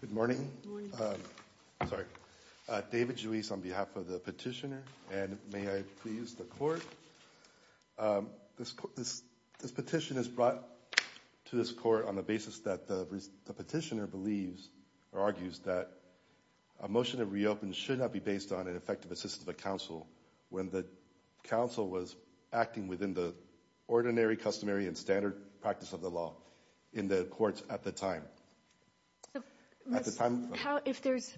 Good morning. David Juiz on behalf of the petitioner and may I please the court. This petition is brought to this court on the basis that the petitioner believes or argues that a motion to reopen should not be based on an effective assistance of a council when the council was acting within the ordinary, customary, and standard practice of the law in the courts at the time. At the time. If there's.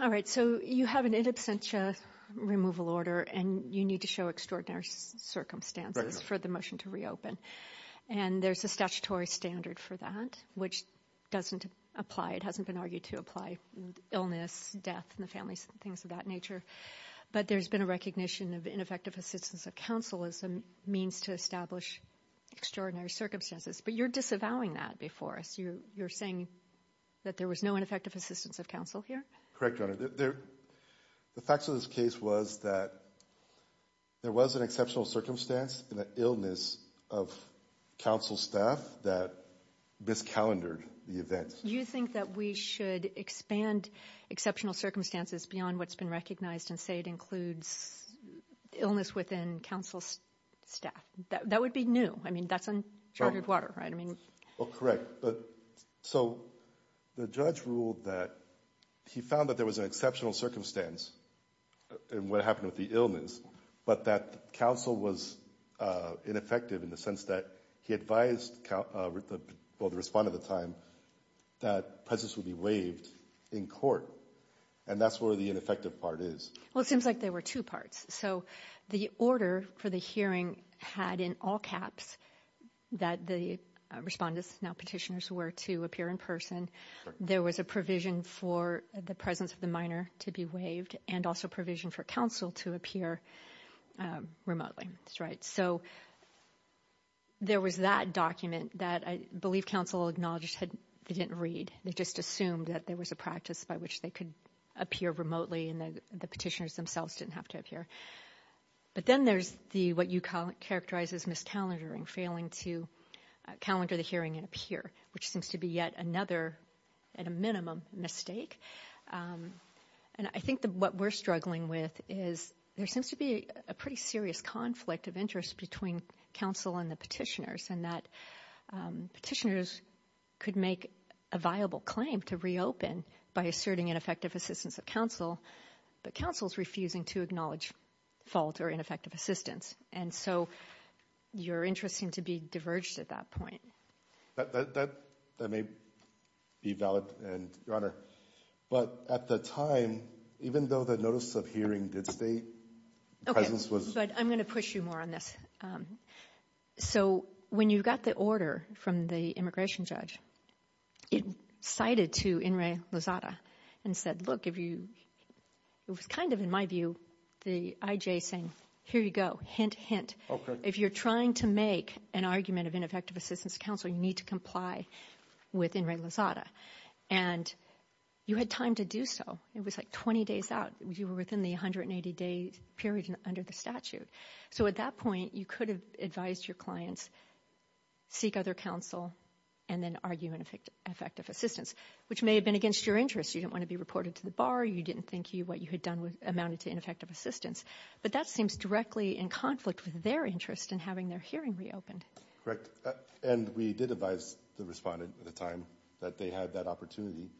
All right. So you have an in absentia removal order and you need to show extraordinary circumstances for the motion to reopen. And there's a statutory standard for that which doesn't apply. It hasn't been argued to apply. Illness, death in the family, things of that nature. But there's been a recognition of ineffective assistance of council as a means to establish extraordinary circumstances. But you're disavowing that before us. You're saying that there was no ineffective assistance of council here. Correct. The facts of this case was that there was an exceptional circumstance in the illness of council staff that miscalendered the event. You think that we should expand exceptional circumstances beyond what's been recognized and say it includes illness within council staff. That would be new. I mean, that's uncharted water, right? I mean, correct. So the judge ruled that he found that there was an exceptional circumstance in what happened with the illness, but that council was ineffective in the sense that he advised the respondent at the time that presence would be waived in court. And that's where the ineffective part is. Well, it seems like there were two parts. So the order for the hearing had in all caps that the respondents, now petitioners, were to appear in person. There was a provision for the presence of the minor to be waived and also provision for council to appear remotely. So there was that document that I believe council acknowledged they didn't read. They just assumed that there was a practice by which they could appear remotely and the petitioners themselves didn't have to appear. But then there's what you characterize as miscalendering, failing to calendar the hearing and appear, which seems to be yet another, at a minimum, mistake. And I think that what we're struggling with is there seems to be a pretty serious conflict of interest between council and the petitioners, and that petitioners could make a viable claim to reopen by asserting ineffective assistance of council, but council's refusing to acknowledge fault or ineffective assistance. And so your interests seem to be diverged at that point. That may be valid, Your Honor. But at the time, even though the notice of hearing did stay, presence was... Okay, but I'm going to push you more on this. So when you got the order from the immigration judge, it cited to Inrei Lozada and said, look, if you, it was kind of in my view, the I.J. saying, here you go, hint, hint. If you're trying to make an argument of ineffective assistance of council, you need to comply with Inrei Lozada. And you had time to do so. It was like 20 days out. You were within the 180-day period under the statute. So at that point, you could have advised your clients, seek other counsel and then argue ineffective assistance, which may have been against your interests. You didn't want to be reported to the bar. You didn't think what you had done amounted to ineffective assistance. But that seems directly in conflict with their interest in having their hearing reopened. Correct. And we did advise the respondent at the time that they had that opportunity.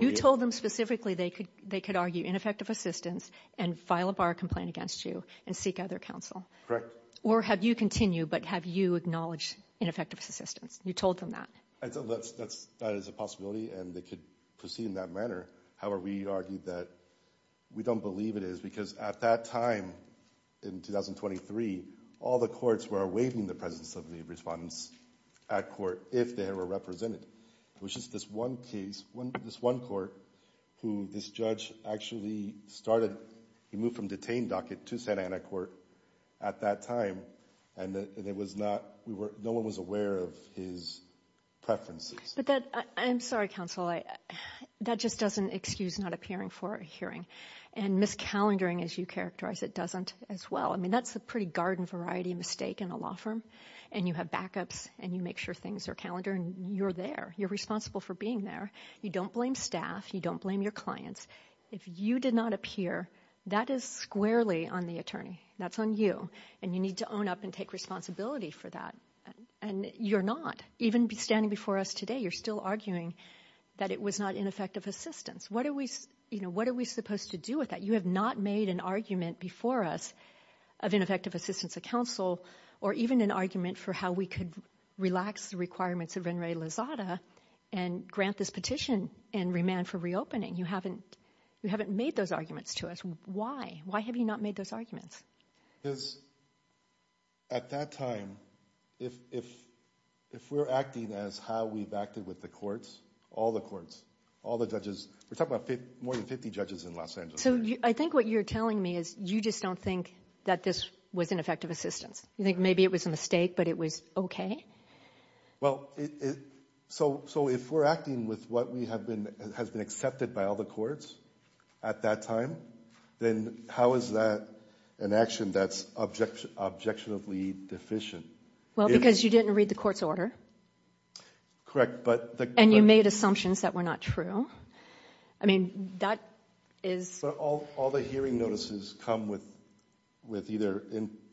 You told them specifically they could argue ineffective assistance and file a bar complaint against you and seek other counsel. Correct. Or have you continued, but have you acknowledged ineffective assistance? You told them that. That is a possibility and they could proceed in that manner. However, we argued that we don't believe it is because at that time, in 2023, all the courts were waiving the presence of the respondents at court if they were represented. It was just this one case, this one court who this judge actually started, he moved from detained docket to Santa Ana court at that time and it was not, no one was aware of his preferences. I'm sorry, counsel. That just doesn't excuse not appearing for a hearing. And miscalendering, as you characterize it, doesn't as well. I mean, that's a pretty garden variety mistake in a law firm. And you have backups and you make sure things are calendared and you're there. You're responsible for being there. You don't blame staff. You don't blame your clients. If you did not appear, that is squarely on the attorney. That's on you. And you need to own up and take responsibility for that. And you're not. Even standing before us today, you're still arguing that it was not ineffective assistance. What are we supposed to do with that? You have not made an argument before us of ineffective assistance of counsel or even an argument for how we could relax the requirements of René Lozada and grant this petition and remand for reopening. You haven't made those arguments to us. Why? Why have you not made those arguments? Because at that time, if we're acting as how we've acted with the courts, all the courts, all the judges, we're talking about more than 50 judges in Los Angeles. So I think what you're telling me is you just don't think that this was ineffective assistance. You think maybe it was a mistake, but it was okay? Well, so if we're acting with what has been accepted by all the courts at that time, then how is that an action that's objectionably deficient? Well, because you didn't read the court's order. Correct, but... And you made assumptions that were not true. I mean, that is... All the hearing notices come with either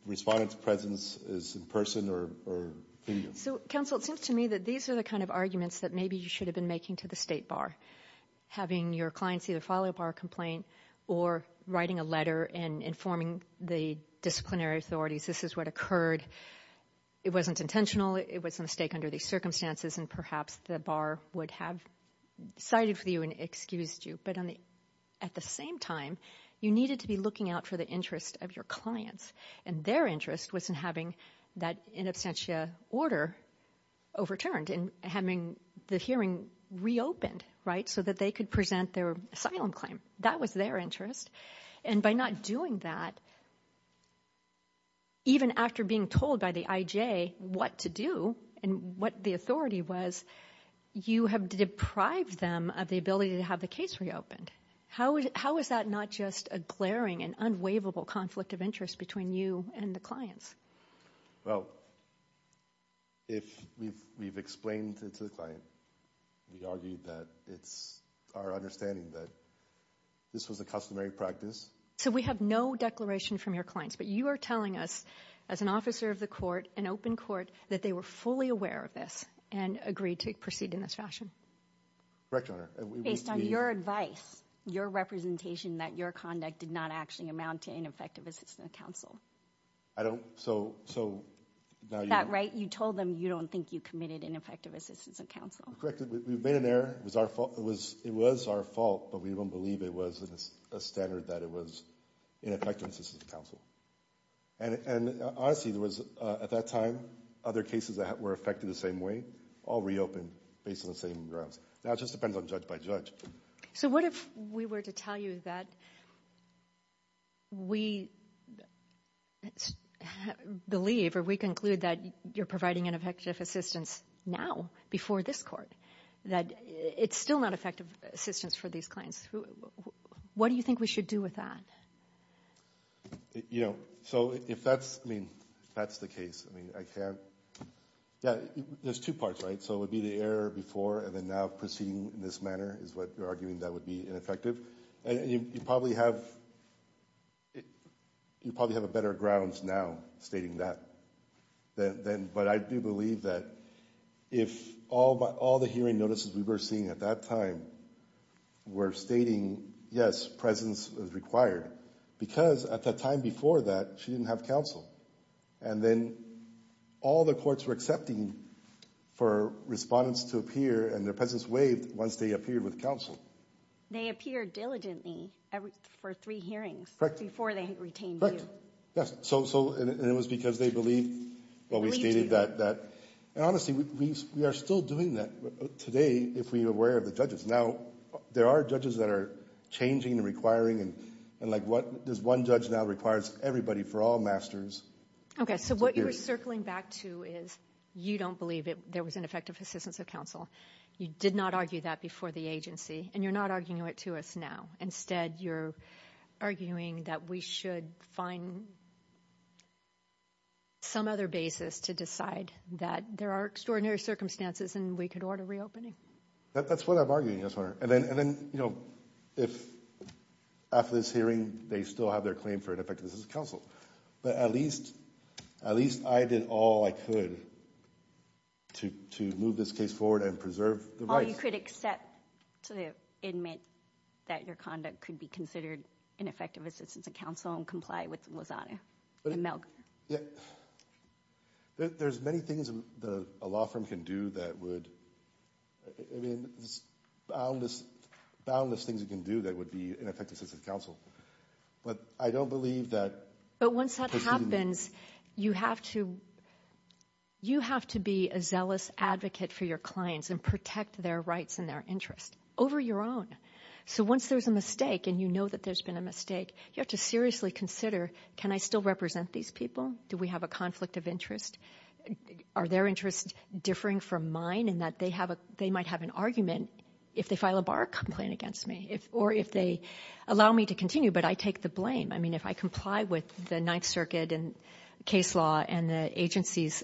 respondents' presence is in person or video. So, counsel, it seems to me that these are the kind of arguments that maybe you should have been making to the state bar, having your clients either file a bar complaint or writing a letter and informing the disciplinary authorities, this is what occurred. It wasn't intentional. It was a mistake under these circumstances, and perhaps the bar would have sided with you and excused you, but at the same time, you needed to be looking out for the interest of your clients, and their interest was in having that in absentia order overturned and having the hearing reopened, right? So that they could present their asylum claim. That was their interest, and by not doing that, even after being told by the IJ what to do and what the authority was, you have deprived them of the ability to have the case reopened. How is that not just a glaring and unwaverable conflict of interest between you and the clients? Well, if we've explained it to the client, we argued that it's our understanding that this was a customary practice. So we have no declaration from your clients, but you are telling us, as an officer of the court, an open court, that they were fully aware of this and agreed to proceed in this fashion? Correct, Your Honor. Based on your advice, your representation, that your conduct did not actually amount to an effective assistance to counsel. I don't, so, so, now you know. Is that right? You told them you don't think you committed ineffective assistance to counsel. Correct. We've made an error. It was our fault, but we don't believe it was a standard that it was ineffective assistance to counsel. And, honestly, there was, at that time, other cases that were affected the same way all reopened based on the same grounds. Now it just depends on judge by judge. So what if we were to tell you that we believe, or we conclude, that you're providing ineffective assistance now, before this court, that it's still not effective assistance for these clients? What do you think we should do with that? You know, so if that's, I mean, if that's the case, I mean, I can't, yeah, there's two parts, right? So it would be the error before and then now proceeding in this manner is what you're arguing that would be ineffective. And you probably have, you probably have a better grounds now stating that than, but I do believe that if all the hearing notices we were seeing at that time were stating, yes, presence is required, because at the time before that, she didn't have counsel. And then all the courts were accepting for respondents to appear and their presence waived once they appeared with counsel. They appeared diligently for three hearings before they retained you. Correct. Yes. So, and it was because they believed what we stated that, and honestly, we are still doing that today if we are aware of the judges. Now, there are judges that are changing and requiring and like what, there's one judge now that requires everybody for all masters to appear. Okay, so what you're circling back to is you don't believe there was ineffective assistance of counsel. You did not argue that before the agency and you're not arguing it to us now. Instead, you're arguing that we should find some other basis to decide that there are extraordinary circumstances and we could order reopening. That's what I'm arguing, yes, Your Honor. And then, you know, if after this hearing, they still have their claim for ineffective assistance of counsel, but at least, at least I did all I could to move this case forward and preserve the rights. Or you could accept to admit that your conduct could be considered ineffective assistance of counsel and comply with Lozano and Melgar. Yeah, there's many things that a law firm can do that would, I mean, there's boundless things you can do that would be ineffective assistance of counsel. But I don't believe that. But once that happens, you have to, you have to be a zealous advocate for your clients and protect their rights and their interests over your own. So once there's a mistake and you know that there's been a mistake, you have to seriously consider, can I still represent these people? Do we have a conflict of interest? Are their interests differing from mine in that they have a, they might have an argument if they file a bar complaint against me or if they allow me to continue, but I take the I mean, if I comply with the Ninth Circuit and case law and the agency's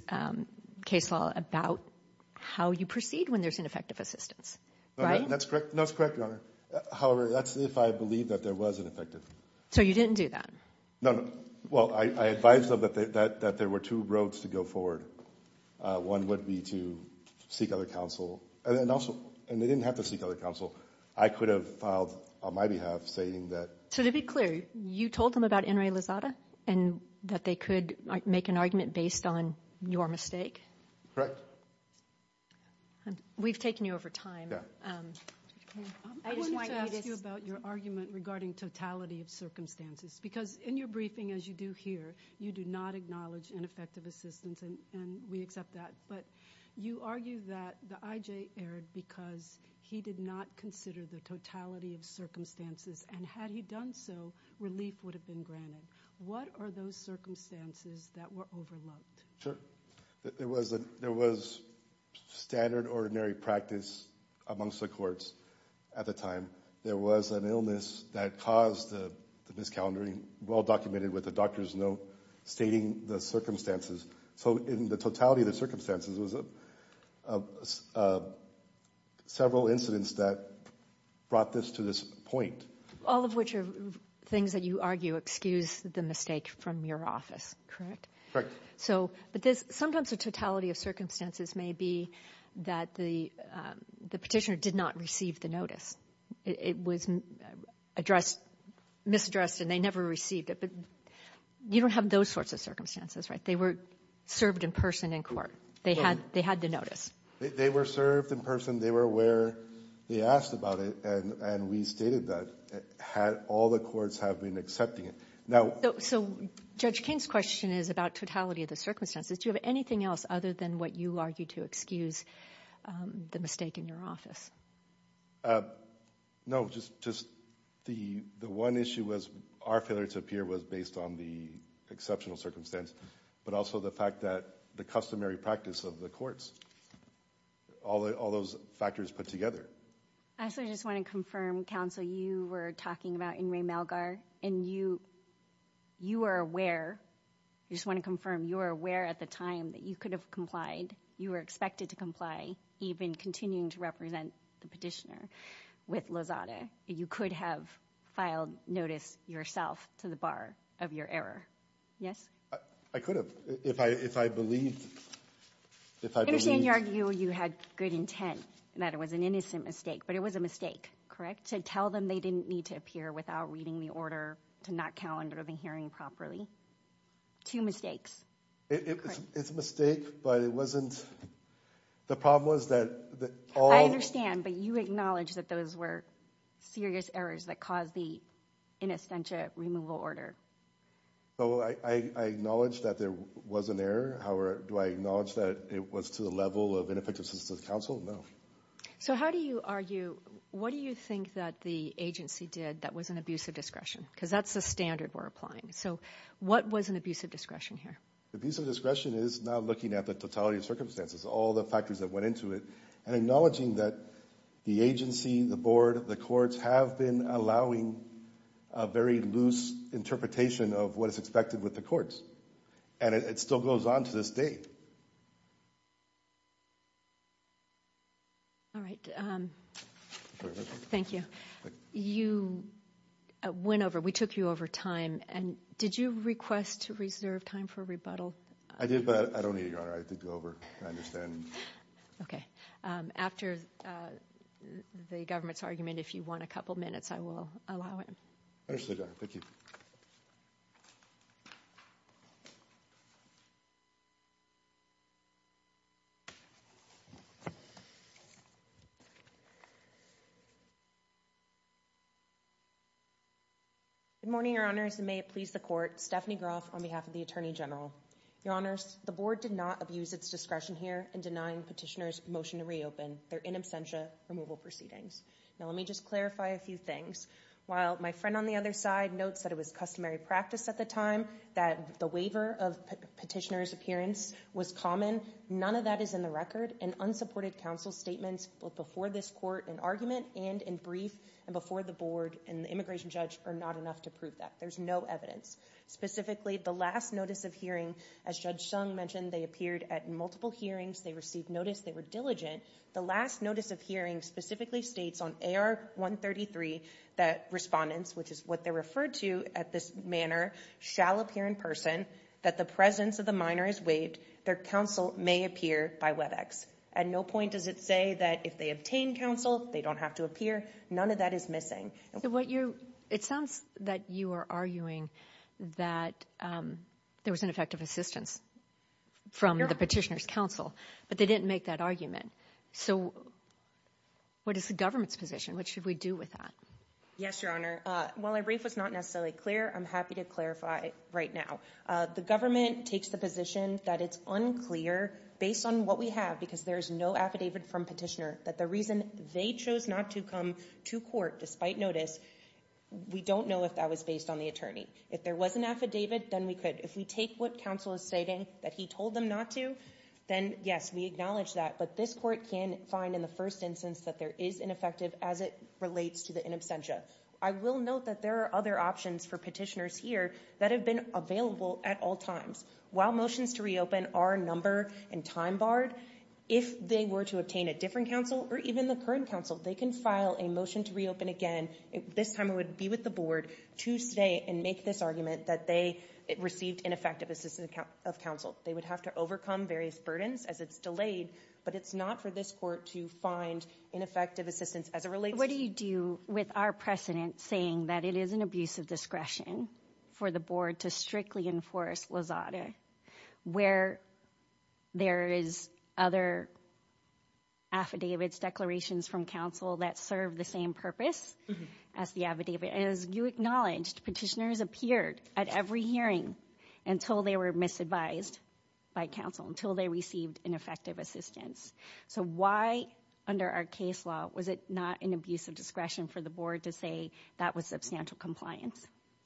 case law about how you proceed when there's ineffective assistance. Right? That's correct. That's correct, Your Honor. However, that's if I believe that there was ineffective. So you didn't do that? No, no. Well, I advised them that there were two roads to go forward. One would be to seek other counsel and then also, and they didn't have to seek other counsel. I could have filed on my behalf saying that. So to be clear, you told them about N. Ray Lozada and that they could make an argument based on your mistake? Correct. We've taken you over time. Yeah. I wanted to ask you about your argument regarding totality of circumstances, because in your briefing, as you do here, you do not acknowledge ineffective assistance and we accept that, but you argue that the I.J. erred because he did not consider the totality of circumstances and had he done so, relief would have been granted. What are those circumstances that were overlooked? Sure. There was standard ordinary practice amongst the courts at the time. There was an illness that caused the miscalendering, well documented with the doctor's note stating the circumstances. So in the totality of the circumstances, there was several incidents that brought this to this point. All of which are things that you argue excuse the mistake from your office, correct? Correct. But sometimes the totality of circumstances may be that the Petitioner did not receive the notice. It was addressed, misaddressed, and they never received it, but you don't have those sorts of circumstances, right? They were served in person in court. They had the notice. They were served in person. They were aware. They asked about it, and we stated that. All the courts have been accepting it. So Judge King's question is about totality of the circumstances. Do you have anything else other than what you argue to excuse the mistake in your office? No, just the one issue was our failure to appear was based on the exceptional circumstance, but also the fact that the customary practice of the courts, all those factors put together. I also just want to confirm, Counsel, you were talking about In re Malgar, and you are aware, I just want to confirm, you were aware at the time that you could have complied, you were expected to comply, even continuing to represent the Petitioner with Lozada. You could have filed notice yourself to the bar of your error, yes? I could have. If I believed... If I believed... I understand you argue you had good intent and that it was an innocent mistake, but it was a mistake, correct, to tell them they didn't need to appear without reading the order to not calendar the hearing properly. Two mistakes. It's a mistake, but it wasn't... The problem was that all... I understand, but you acknowledge that those were serious errors that caused the in absentia removal order. Well, I acknowledge that there was an error, however, do I acknowledge that it was to the level of ineffectiveness of the counsel? No. So how do you argue, what do you think that the agency did that was an abuse of discretion? Because that's the standard we're applying. So what was an abuse of discretion here? Abuse of discretion is not looking at the totality of circumstances, all the factors that went into it, and acknowledging that the agency, the board, the courts have been allowing a very loose interpretation of what is expected with the courts. And it still goes on to this day. All right. Thank you. You went over, we took you over time, and did you request to reserve time for rebuttal? I did, but I don't need it, Your Honor. I think we're over. I understand. Okay. After the government's argument, if you want a couple minutes, I will allow it. Absolutely, Your Honor. Thank you. Good morning, Your Honors, and may it please the court. Stephanie Groff on behalf of the Attorney General. Your Honors, the board did not abuse its discretion here in denying petitioner's motion to reopen their in absentia removal proceedings. Now, let me just clarify a few things. While my friend on the other side notes that it was customary practice at the time that the waiver of petitioner's appearance was common, none of that is in the record, and unsupported counsel's statements both before this court in argument and in brief and before the board and the immigration judge are not enough to prove that. There's no evidence. Specifically, the last notice of hearing, as Judge Sung mentioned, they appeared at multiple hearings. They received notice. They were diligent. The last notice of hearing specifically states on AR-133 that respondents, which is what they referred to at this manner, shall appear in person, that the presence of the minor is waived, their counsel may appear by WebEx. At no point does it say that if they obtain counsel, they don't have to appear. None of that is missing. It sounds that you are arguing that there was ineffective assistance from the petitioner's counsel, but they didn't make that argument. So, what is the government's position? What should we do with that? Yes, Your Honor. While my brief was not necessarily clear, I'm happy to clarify right now. The government takes the position that it's unclear, based on what we have, because there is no affidavit from petitioner, that the reason they chose not to come to court despite notice, we don't know if that was based on the attorney. If there was an affidavit, then we could. If we take what counsel is stating, that he told them not to, then yes, we acknowledge that, but this court can find in the first instance that there is ineffective as it relates to the in absentia. I will note that there are other options for petitioners here that have been available at all times. While motions to reopen are number and time barred, if they were to obtain a different counsel, or even the current counsel, they can file a motion to reopen again, this time it would be with the board, to state and make this argument that they received ineffective assistance of counsel. They would have to overcome various burdens as it's delayed, but it's not for this court to find ineffective assistance as it relates. What do you do with our precedent saying that it is an abuse of discretion for the board to strictly enforce Lozada, where there is other affidavits, declarations from counsel that serve the same purpose as the affidavit, and as you acknowledged, petitioners appeared at every hearing until they were misadvised by counsel, until they received ineffective assistance. So why, under our case law, was it not an abuse of discretion for the board to say that was substantial compliance?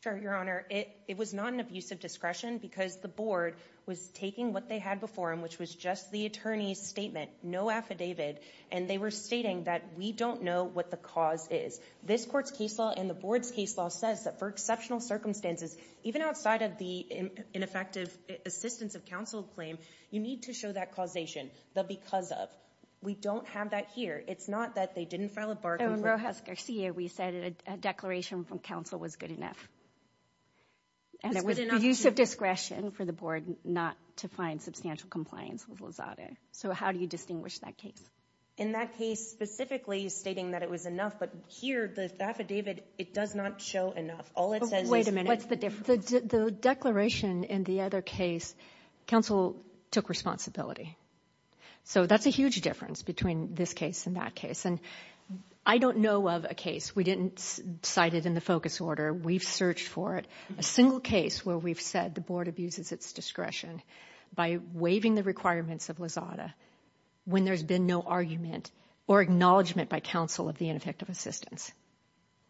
Sure, Your Honor. It was not an abuse of discretion because the board was taking what they had before them, which was just the attorney's statement, no affidavit, and they were stating that we don't know what the cause is. This court's case law and the board's case law says that for exceptional circumstances, even outside of the ineffective assistance of counsel claim, you need to show that causation, the because of. We don't have that here. It's not that they didn't file a bar complaint. In Rojas Garcia, we said a declaration from counsel was good enough. And it was an abuse of discretion for the board not to find substantial compliance with So how do you distinguish that case? In that case, specifically stating that it was enough, but here, the affidavit, it does not show enough. All it says is... Wait a minute. What's the difference? The declaration in the other case, counsel took responsibility. So that's a huge difference between this case and that case. And I don't know of a case. We didn't cite it in the focus order. We've searched for it. A single case where we've said the board abuses its discretion by waiving the requirements of Lozada when there's been no argument or acknowledgement by counsel of the ineffective assistance.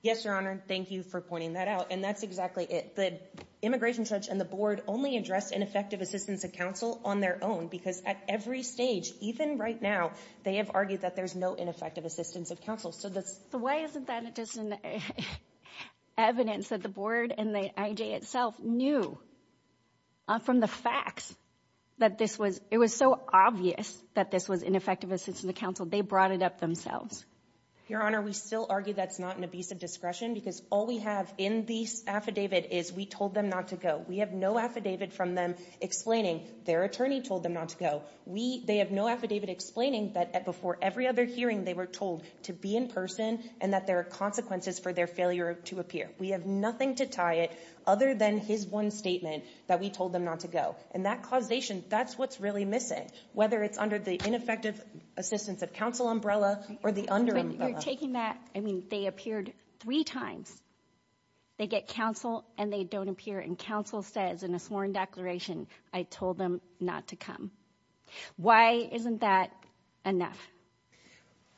Yes, Your Honor. Thank you for pointing that out. And that's exactly it. The immigration judge and the board only addressed ineffective assistance of counsel on their own because at every stage, even right now, they have argued that there's no ineffective assistance of counsel. So that's... So why isn't that just evidence that the board and the IJ itself knew from the facts that this was... It was so obvious that this was ineffective assistance of counsel, they brought it up themselves. Your Honor, we still argue that's not an abuse of discretion because all we have in this affidavit is we told them not to go. We have no affidavit from them explaining their attorney told them not to go. We... They have no affidavit explaining that before every other hearing they were told to be in person and that there are consequences for their failure to appear. We have nothing to tie it other than his one statement that we told them not to go. And that causation, that's what's really missing, whether it's under the ineffective assistance of counsel umbrella or the under umbrella. But you're taking that... I mean, they appeared three times. They get counsel and they don't appear. And counsel says in a sworn declaration, I told them not to come. Why isn't that enough?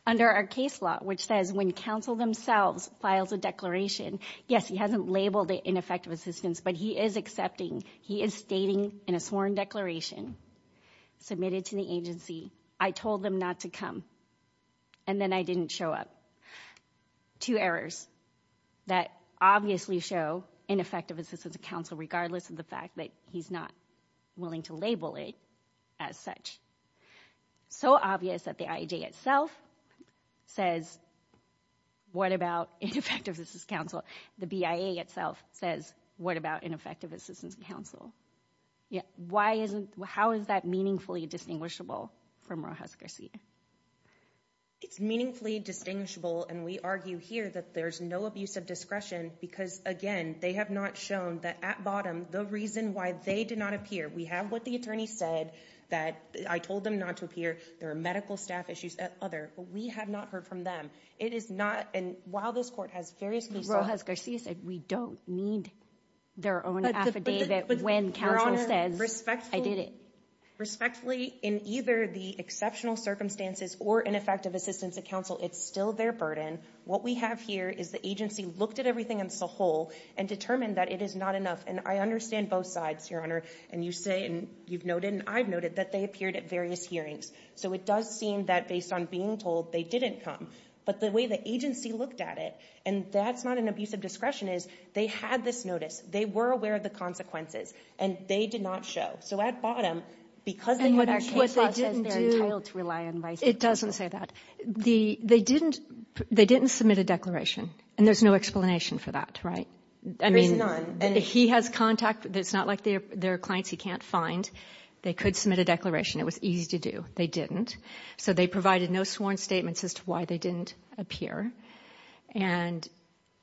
Under our case law, which says when counsel themselves files a declaration, yes, he hasn't labeled it ineffective assistance, but he is accepting, he is stating in a sworn declaration submitted to the agency, I told them not to come. And then I didn't show up. Two errors that obviously show ineffective assistance of counsel regardless of the fact that he's not willing to label it as such. So obvious that the IAJ itself says, what about ineffective assistance of counsel? The BIA itself says, what about ineffective assistance of counsel? Why isn't... How is that meaningfully distinguishable from Rojas Garcia? It's meaningfully distinguishable. And we argue here that there's no abuse of discretion because, again, they have not shown that at bottom, the reason why they did not appear. We have what the attorney said that I told them not to appear. There are medical staff issues at other, but we have not heard from them. It is not... And while this court has various... Rojas Garcia said we don't need their own affidavit when counsel says, I did it. Respectfully, in either the exceptional circumstances or ineffective assistance of counsel, it's still their burden. What we have here is the agency looked at everything as a whole and determined that it is not enough. And I understand both sides, Your Honor, and you say and you've noted and I've noted that they appeared at various hearings. So it does seem that based on being told, they didn't come. But the way the agency looked at it, and that's not an abuse of discretion, is they had this notice. They were aware of the consequences, and they did not show. So at bottom, because they... And what they didn't do... It doesn't say that. They didn't submit a declaration, and there's no explanation for that, right? There is none. I mean, he has contact. It's not like there are clients he can't find. They could submit a declaration. It was easy to do. They didn't. So they provided no sworn statements as to why they didn't appear, and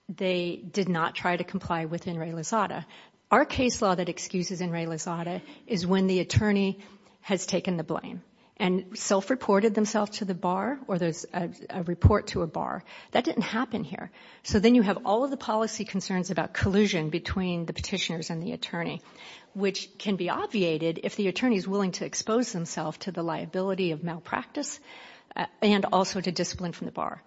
they did not try to comply with In re Lazada. Our case law that excuses In re Lazada is when the attorney has taken the blame and self-reported themselves to the bar or there's a report to a bar. That didn't happen here. So then you have all of the policy concerns about collusion between the petitioners and the attorney, which can be obviated if the attorney is willing to expose themselves to the liability of malpractice and also to discipline from the bar.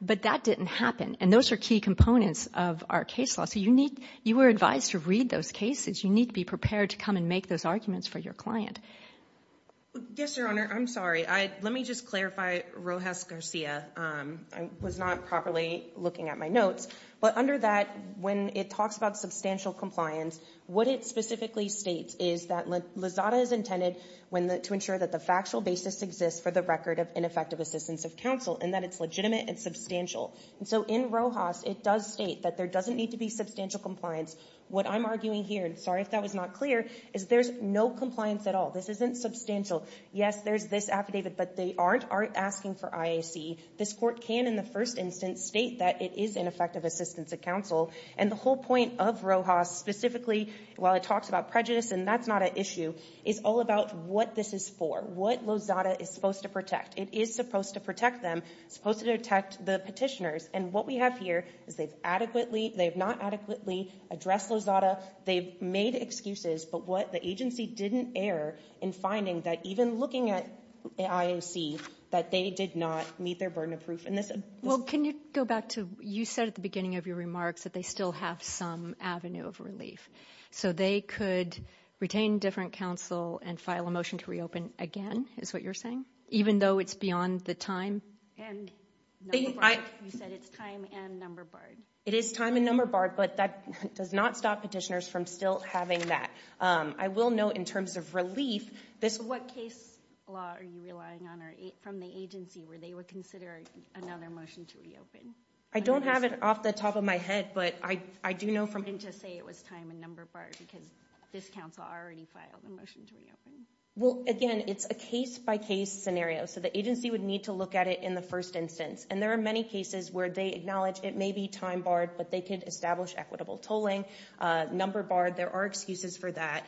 But that didn't happen, and those are key components of our case law. So you were advised to read those cases. You need to be prepared to come and make those arguments for your client. Yes, Your Honor. I'm sorry. Let me just clarify Rojas Garcia. I was not properly looking at my notes. But under that, when it talks about substantial compliance, what it specifically states is that Lazada is intended to ensure that the factual basis exists for the record of ineffective assistance of counsel and that it's legitimate and substantial. So in Rojas, it does state that there doesn't need to be substantial compliance. What I'm arguing here, and sorry if that was not clear, is there's no compliance at all. This isn't substantial. Yes, there's this affidavit, but they aren't asking for IAC. This court can, in the first instance, state that it is ineffective assistance of counsel. And the whole point of Rojas specifically, while it talks about prejudice and that's not an issue, is all about what this is for, what Lazada is supposed to protect. It is supposed to protect them, supposed to protect the petitioners. And what we have here is they've not adequately addressed Lazada. They've made excuses. But what the agency didn't err in finding that even looking at IAC, that they did not meet their burden of proof. Well, can you go back to you said at the beginning of your remarks that they still have some avenue of relief. So they could retain different counsel and file a motion to reopen again, is what you're saying, even though it's beyond the time? You said it's time and number barred. It is time and number barred, but that does not stop petitioners from still having that. I will note in terms of relief, this... What case law are you relying on from the agency where they would consider another motion to reopen? I don't have it off the top of my head, but I do know from... You didn't just say it was time and number barred because this counsel already filed a motion to reopen. Well, again, it's a case-by-case scenario. So the agency would need to look at it in the first instance. And there are many cases where they acknowledge it may be time barred, but they could establish equitable tolling, number barred. There are excuses for that.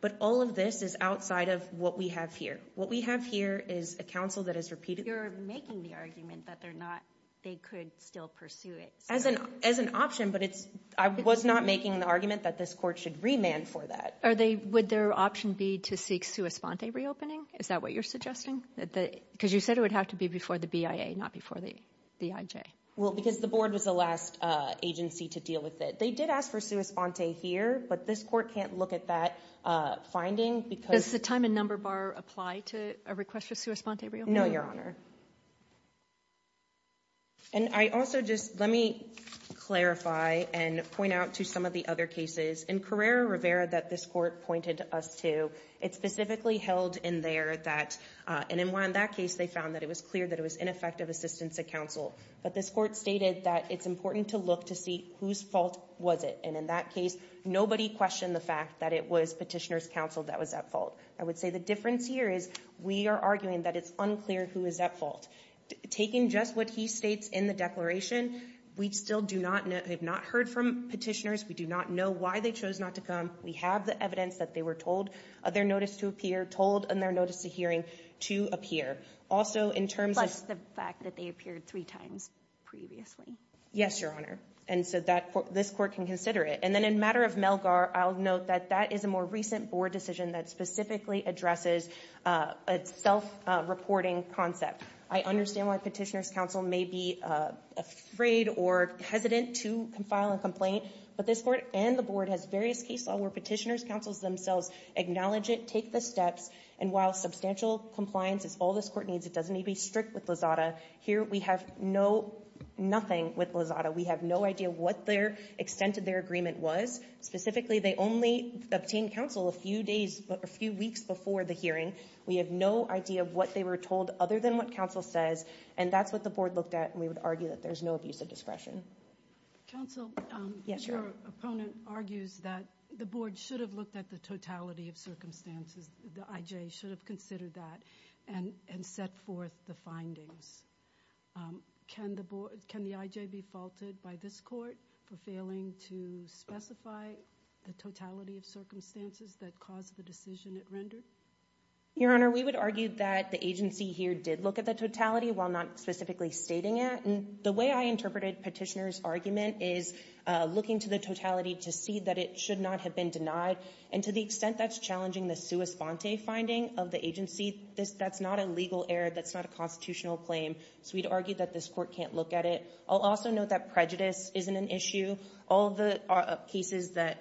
But all of this is outside of what we have here. What we have here is a counsel that has repeated... You're making the argument that they're not... They could still pursue it. As an option, but it's... I was not making the argument that this court should remand for that. Would their option be to seek sua sponte reopening? Is that what you're suggesting? Because you said it would have to be before the BIA, not before the IJ. Well, because the board was the last agency to deal with it. They did ask for sua sponte here, but this court can't look at that finding because... Does the time and number bar apply to a request for sua sponte reopening? No, Your Honor. And I also just... Let me clarify and point out to some of the other cases. In Carrera Rivera that this court pointed us to, it specifically held in there that... And in that case, they found that it was clear that it was ineffective assistance to counsel. But this court stated that it's important to look to see whose fault was it. And in that case, nobody questioned the fact that it was Petitioner's counsel that was at fault. I would say the difference here is we are arguing that it's unclear who is at fault. Taking just what he states in the declaration, we still have not heard from Petitioners. We do not know why they chose not to come. We have the evidence that they were told their notice to appear, told in their notice of hearing to appear. Also, in terms of... Plus the fact that they appeared three times previously. Yes, Your Honor. And so this court can consider it. And then in matter of Melgar, I'll note that that is a more recent board decision that specifically addresses a self-reporting concept. I understand why Petitioner's counsel may be afraid or hesitant to file a complaint, but this court and the board has various case law where Petitioner's counsel themselves acknowledge it, take the steps, and while substantial compliance is all this court needs, it doesn't need to be strict with Lozada. Here, we have nothing with Lozada. We have no idea what their extent of their agreement was. Specifically, they only obtained counsel a few weeks before the hearing. We have no idea what they were told other than what counsel says, and that's what the board looked at, and we would argue that there's no abuse of discretion. Counsel, your opponent argues that the board should have looked at the totality of circumstances. The IJ should have considered that and set forth the findings. Can the IJ be faulted by this court for failing to specify the totality of circumstances that caused the decision it rendered? Your Honor, we would argue that the agency here did look at the totality while not specifically stating it. The way I interpreted Petitioner's argument is looking to the totality to see that it should not have been denied, and to the extent that's challenging the sua sponte finding of the agency, that's not a legal error. That's not a constitutional claim, so we'd argue that this court can't look at it. I'll also note that prejudice isn't an issue.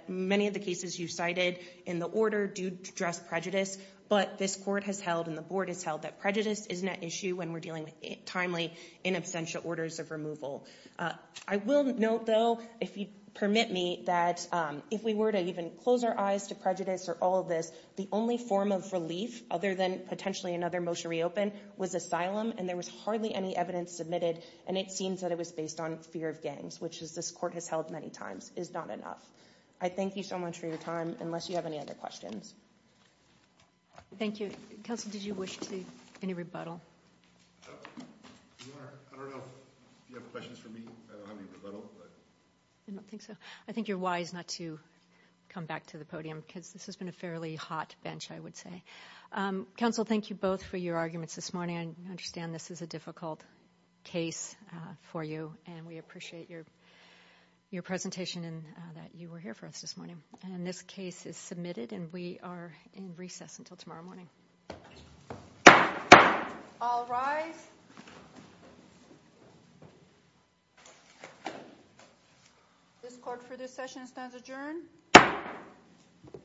Many of the cases you cited in the order do address prejudice, but this court has held and the board has held that prejudice isn't an issue when we're dealing with timely in absentia orders of removal. I will note, though, if you permit me, that if we were to even close our eyes to prejudice or all of this, the only form of relief, other than potentially another motion to reopen, was asylum, and there was hardly any evidence submitted, and it seems that it was based on fear of gangs, which this court has held many times, is not enough. I thank you so much for your time, unless you have any other questions. Thank you. Counsel, did you wish to do any rebuttal? I don't know if you have questions for me. I don't have any rebuttal. I don't think so. I think you're wise not to come back to the podium because this has been a fairly hot bench, I would say. Counsel, thank you both for your arguments this morning. I understand this is a difficult case for you, and we appreciate your presentation and that you were here for us this morning. And this case is submitted, and we are in recess until tomorrow morning. All rise. This court for this session stands adjourned.